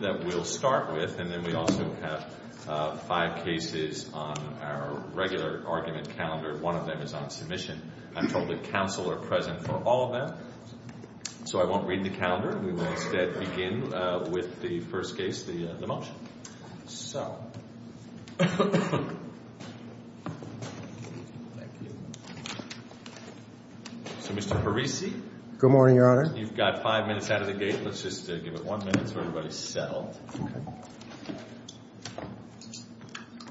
that we'll start with, and then we also have five cases on our regular argument calendar. One of them is on submission. I'm told that counsel are present for all of them, so I won't read the calendar. We will instead begin with the first case, the motion. Mr. Parisi. Good morning, Your Honor. You've got five minutes out of the gate. Let's just give it one minute so everybody's settled.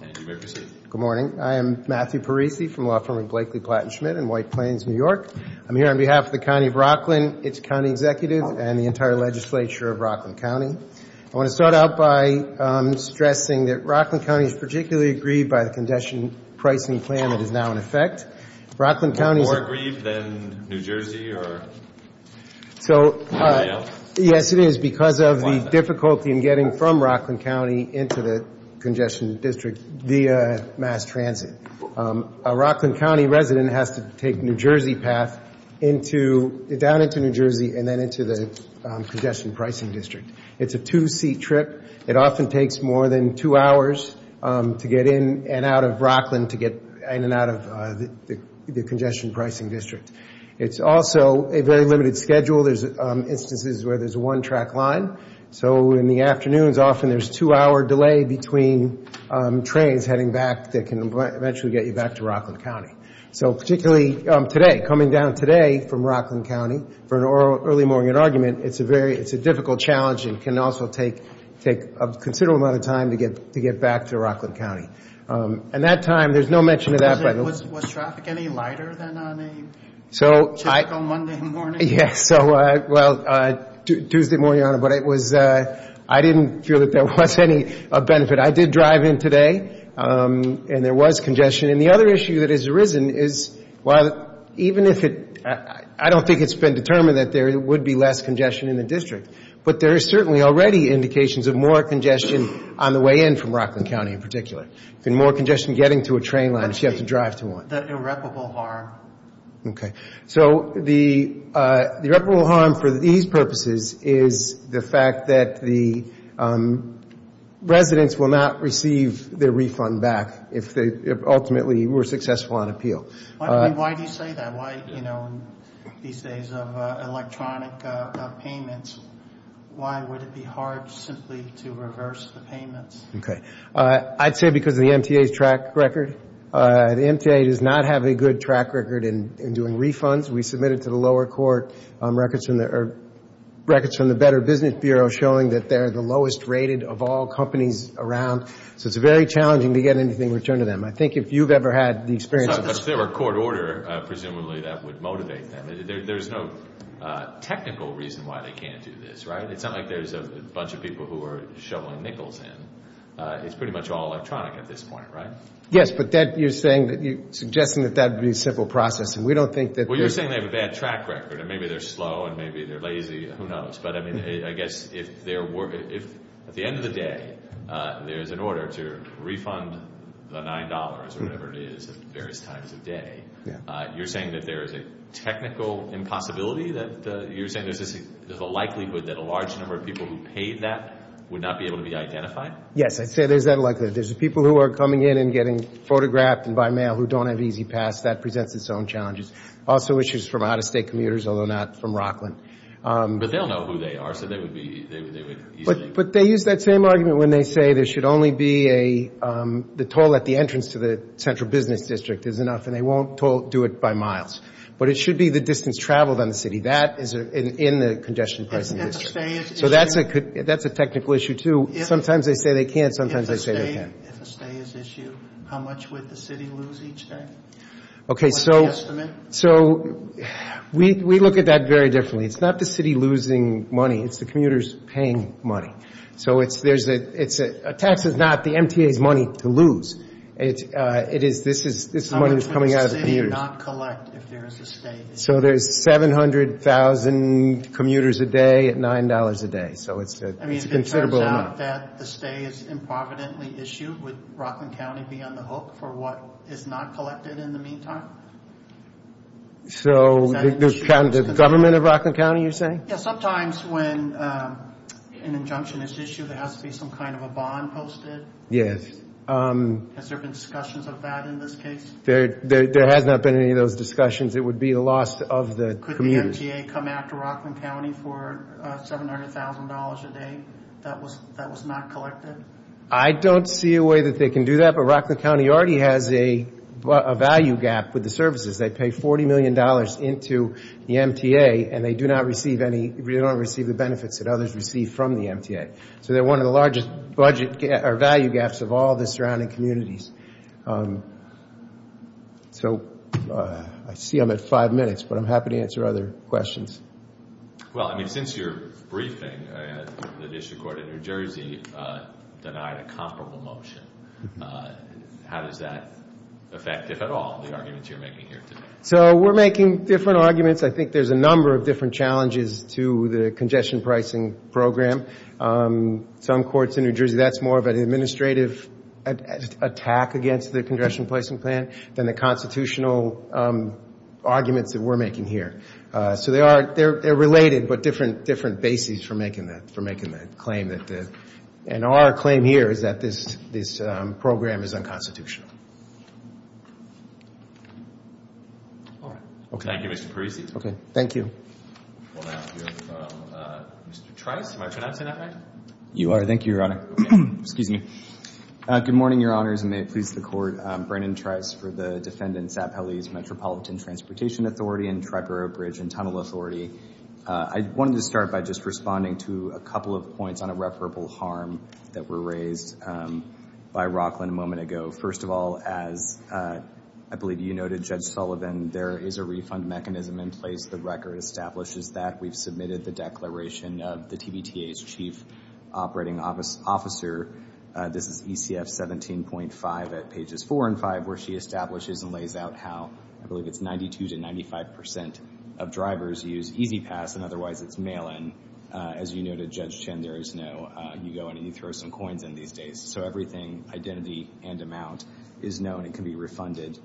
And you may proceed. Good morning. I am Matthew Parisi from Law Firm of Blakely, Platten, Schmidt in White Plains, New York. I'm here on behalf of the County of Rockland, its county executives, and the entire legislature of Rockland County. I want to start out by stressing that Rockland County is particularly aggrieved by the condition pricing plan that is now in effect. Rockland County is... More aggrieved than New Jersey or so. Yes, it is because of the difficulty in getting from Rockland County into the congestion district via mass transit. A Rockland County resident has to take New Jersey path down into New Jersey and then into the congestion pricing district. It's a two-seat trip. It often takes more than two hours to get in and out of Rockland to get in and out of the congestion pricing district. It's also a very limited schedule. There's instances where there's one track line. So in the afternoons, often there's two-hour delay between trains heading back that can eventually get you back to Rockland County. So particularly today, coming down today from Rockland County for an early morning argument, it's a very... It's a difficult challenge and can also take a considerable amount of time to get back to Rockland County. And that time, there's no mention of that. Was traffic any lighter than on a typical Monday morning? Yes. Well, Tuesday morning, but I didn't feel that there was any benefit. I did drive in today and there was congestion. And the other issue that has arisen is, well, even if it... I don't think it's been determined that there would be less congestion in the district, but there are certainly already indications of more congestion on the way in from Rockland County in particular. And more congestion getting to a train line if you have to drive to one. The irreparable harm. Okay. So the irreparable harm for these purposes is the fact that the residents will not receive their refund back if they ultimately were successful on appeal. Why do you say that? Why, you know, these days of electronic payments, why would it be hard simply to reverse the payments? Okay. I'd say because of the MTA's track record. The MTA does not have a good track record in doing refunds. We submitted to the lower court records from the Better Business Bureau showing that they're the lowest rated of all companies around. So it's very challenging to get anything returned to them. I think if you've ever had the experience... But if there were court order, presumably that would motivate them. There's no technical reason why they can't do this, right? It's not like there's a bunch of people who are shoveling in. It's pretty much all electronic at this point, right? Yes, but you're suggesting that that would be simple processing. We don't think that... Well, you're saying they have a bad track record. Maybe they're slow and maybe they're lazy. Who knows? But I mean, I guess if at the end of the day there's an order to refund the $9 or whatever it is at various times of day, you're saying that there is a technical impossibility? You're saying there's a likelihood that a large number of people who paid that would not be able to be identified? Yes, I'd say there's that likelihood. There's people who are coming in and getting photographed and by mail who don't have E-ZPass. That presents its own challenges. Also issues from out-of-state commuters, although not from Rockland. But they'll know who they are, so they would easily... But they use that same argument when they say there should only be the toll at the entrance to the central business district is enough and they won't do it by miles. But it should be the distance traveled on the city. That is in the congestion pricing district. If a stay is issued... So that's a technical issue too. Sometimes they say they can't. Sometimes they say they can. If a stay is issued, how much would the city lose each day? What's the estimate? So we look at that very differently. It's not the city losing money. It's the commuters paying money. So a tax is not the MTA's money to lose. This is money that's coming out of the commuters. How much would the city not collect if there is a stay? So there's 700,000 commuters a day at $9 a day. So it's a considerable amount. I mean, if it turns out that the stay is improvidently issued, would Rockland County be on the hook for what is not collected in the meantime? So the government of Rockland County, you're saying? Yeah, sometimes when an injunction is issued, there has to be some kind of a bond posted. Yes. Has there been discussions of that in this case? There has not been any of those discussions. It would be the loss of the commuters. Could the MTA come after Rockland County for $700,000 a day that was not collected? I don't see a way that they can do that, but Rockland County already has a value gap with the services. They pay $40 million into the MTA, and they do not receive the benefits that others receive from the MTA. So they're one of the largest value gaps of all the surrounding communities. So I see I'm at five minutes, but I'm happy to answer other questions. Well, I mean, since your briefing, the district court in New Jersey denied a comparable motion. How does that affect, if at all, the arguments you're making here today? So we're making different arguments. I think there's a number of different challenges to the congestion pricing program. Some courts in New Jersey, that's more of an administrative attack against the congestion pricing plan than the constitutional arguments that we're making here. So they're related, but different bases for making that claim. And our claim here is that this program is unconstitutional. All right. Thank you, Mr. Parisi. Okay. Thank you. We'll now hear from Mr. Trice. Am I pronouncing that right? You are. Thank you, Your Honor. Excuse me. Good morning, Your Honors, and may it please the court. Brandon Trice for the Defendant Sapeli's Metropolitan Transportation Authority and Triborough Bridge and Tunnel Authority. I wanted to start by just responding to a couple of points on irreparable harm that were raised by Rockland a moment ago. First of all, as I believe you noted, Judge Sullivan, there is a refund mechanism in place. The record establishes that. We've submitted the declaration of the TBTA's chief operating officer. This is ECF 17.5 at pages 4 and 5, where she establishes and lays out how, I believe it's 92 to 95 percent of drivers use E-ZPass, and otherwise it's mail-in. As you noted, Judge Chin, there is no, you go in and you throw some coins in these days. So everything, identity and amount, is known and can be refunded.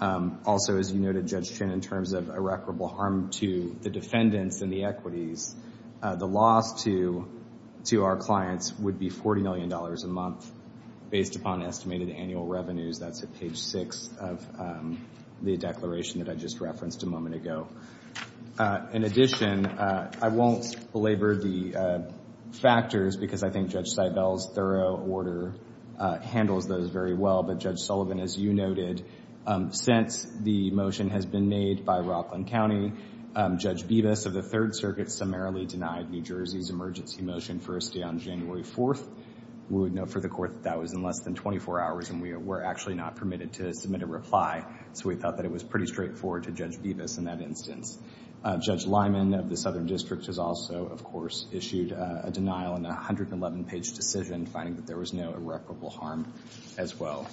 Also, as you noted, Judge Chin, in terms of irreparable harm to the defendants and the equities, the loss to our clients would be $40 million a month based upon estimated annual revenues. That's at page 6 of the declaration that I just referenced a moment ago. In addition, I won't belabor the factors because I think Judge Seibel's thorough order handles those very well, but Judge Sullivan, as you noted, since the motion has been made by Rockland County, Judge Bibas of the Third Circuit summarily denied New Jersey's emergency motion for a stay on January 4th. We would note for the Court that that was in less than 24 hours and we were actually not permitted to submit a reply, so we thought that it was pretty straightforward to Judge Bibas in that instance. Judge Lyman of the Southern District has also, of course, issued a denial in a 111-page decision, finding that there was no irreparable harm as well.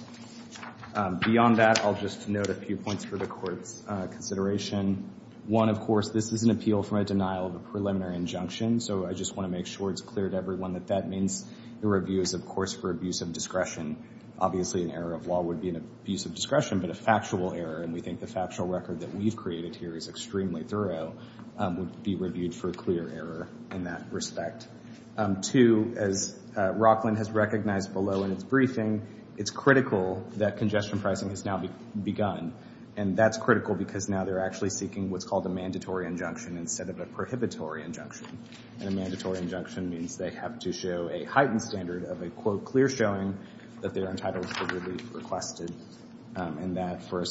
Beyond that, I'll just note a few points for the Court's consideration. One, of course, this is an appeal from a denial of a preliminary injunction, so I just want to make sure it's clear to everyone that that means the review is, of course, for abuse of discretion. Obviously, an error of law would be an abuse of discretion, but a factual error, and we think the factual record that we've created here is extremely thorough, would be reviewed for a clear error in that respect. Two, as Rockland has recognized below in its briefing, it's critical that congestion pricing has now begun, and that's critical because now they're actually seeking what's called a mandatory injunction instead of a prohibitory injunction, and a mandatory injunction means they have to show a heightened standard of a, quote, clear showing that they're entitled to relief requested, and that for a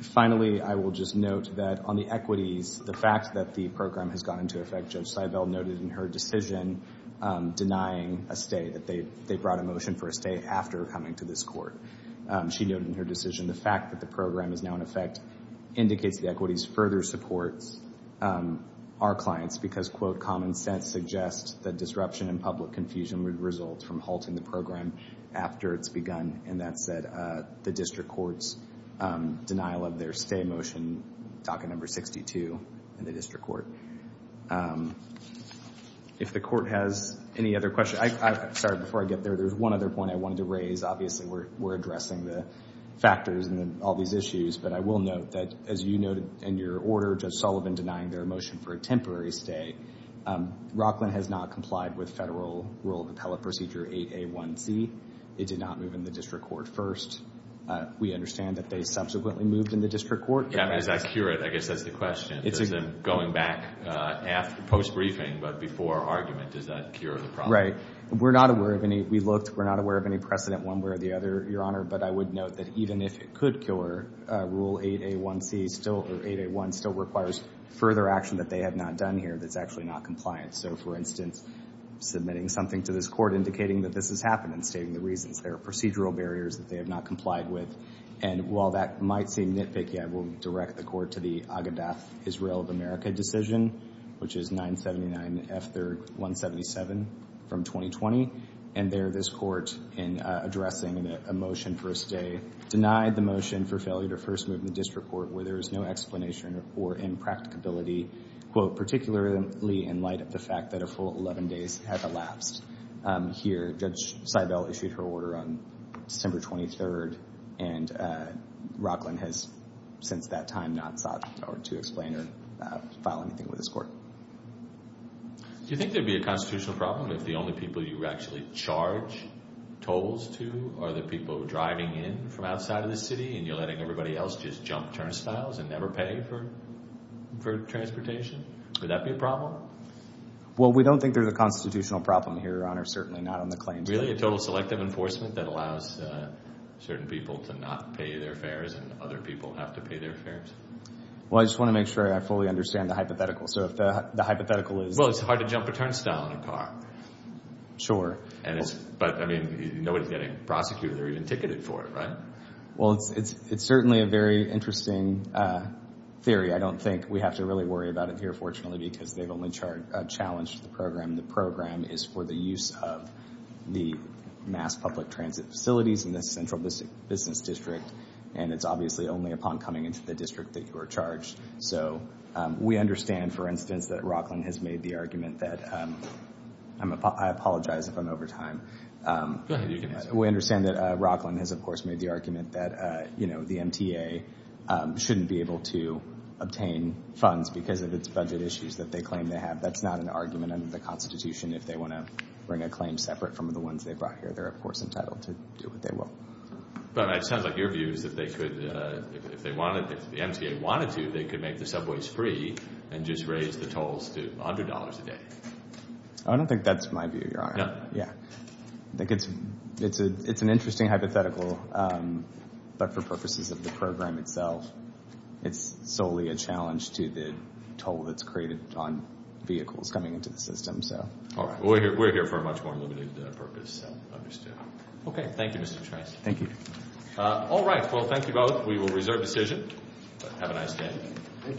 Finally, I will just note that on the equities, the fact that the program has gone into effect, Judge Seibel noted in her decision denying a stay, that they brought a motion for a stay after coming to this Court. She noted in her decision the fact that the program is now in effect indicates the equities further supports our clients because, quote, common sense suggests that disruption and public confusion would result from halting the program after it's begun, and that said, the District Court's denial of their stay motion, docket number 62 in the District Court. If the Court has any other questions, sorry, before I get there, there's one other point I wanted to raise. Obviously, we're addressing the factors and all these issues, but I will note that as you noted in your order, Judge Sullivan denying their motion for a temporary stay. Rockland has not complied with Federal Rule of Appellate Procedure 8A1C. It did not move in the District Court first. We understand that they subsequently moved in the District Court. Yeah, I mean, does that cure it? I guess that's the question. It's a... Going back after post-briefing but before argument, does that cure the problem? Right. We're not aware of any, we looked, we're not aware of any precedent one way or the other, Your Honor, but I would note that even if it could cure, Rule 8A1C still, or 8A1 still requires further action that they have not done here that's actually not compliant. So, for instance, submitting something to this Court indicating that this has happened and stating the reasons. There are procedural barriers that they have not complied with, and while that might seem nitpicky, I will direct the Court to the Agedath Israel of America decision, which is 979 F. 3rd 177 from 2020, and there this Court in addressing a motion for a stay denied the motion for failure to first move in the District Court where there is no explanation or impracticability, quote, particularly in light of the fact that a full 11 days has elapsed. Here, Judge Seibel issued her order on December 23rd, and Rockland has since that time not sought or to explain or file anything with this Court. Do you think there'd be a constitutional problem if the only people you actually charge tolls to are the people driving in from outside of the city and you're letting everybody else just jump turnstiles and never pay for transportation? Would that be a problem? Well, we don't think there's a constitutional problem here, Your Honor, certainly not on the claims. Really, a total selective enforcement that allows certain people to not pay their fares and other people have to pay their fares? Well, I just want to make sure I fully understand the hypothetical. So if the hypothetical is... Well, it's hard to jump a turnstile in a car. Sure. But, I mean, nobody's getting prosecuted or even ticketed for it, right? Well, it's certainly a very interesting theory. I don't think we have to really worry about it here, fortunately, because they've only challenged the program. The program is for the use of the mass public transit facilities in the Central Business District, and it's obviously only upon coming into the district that you are charged. So we understand, for instance, that Rockland has made the argument that... I apologize if I'm over time. Go ahead. You can answer. We understand that Rockland has, of course, made the argument that the MTA shouldn't be able to obtain funds because of its budget issues that they claim they have. That's not an argument under the Constitution if they want to bring a claim separate from the ones they brought here. They're, of course, entitled to do what they will. But it sounds like your view is that if the MTA wanted to, they could make the subways free and just raise the tolls to $100 a day. I don't think that's my view, Your Honor. No? Yeah. I think it's an interesting hypothetical, but for purposes of the program itself, it's solely a challenge to the toll that's created on vehicles coming into the system. All right. We're here for a much more limited purpose. Okay. Thank you, Mr. Trice. Thank you. All right. Well, thank you both. We will reserve decision. Have a nice day.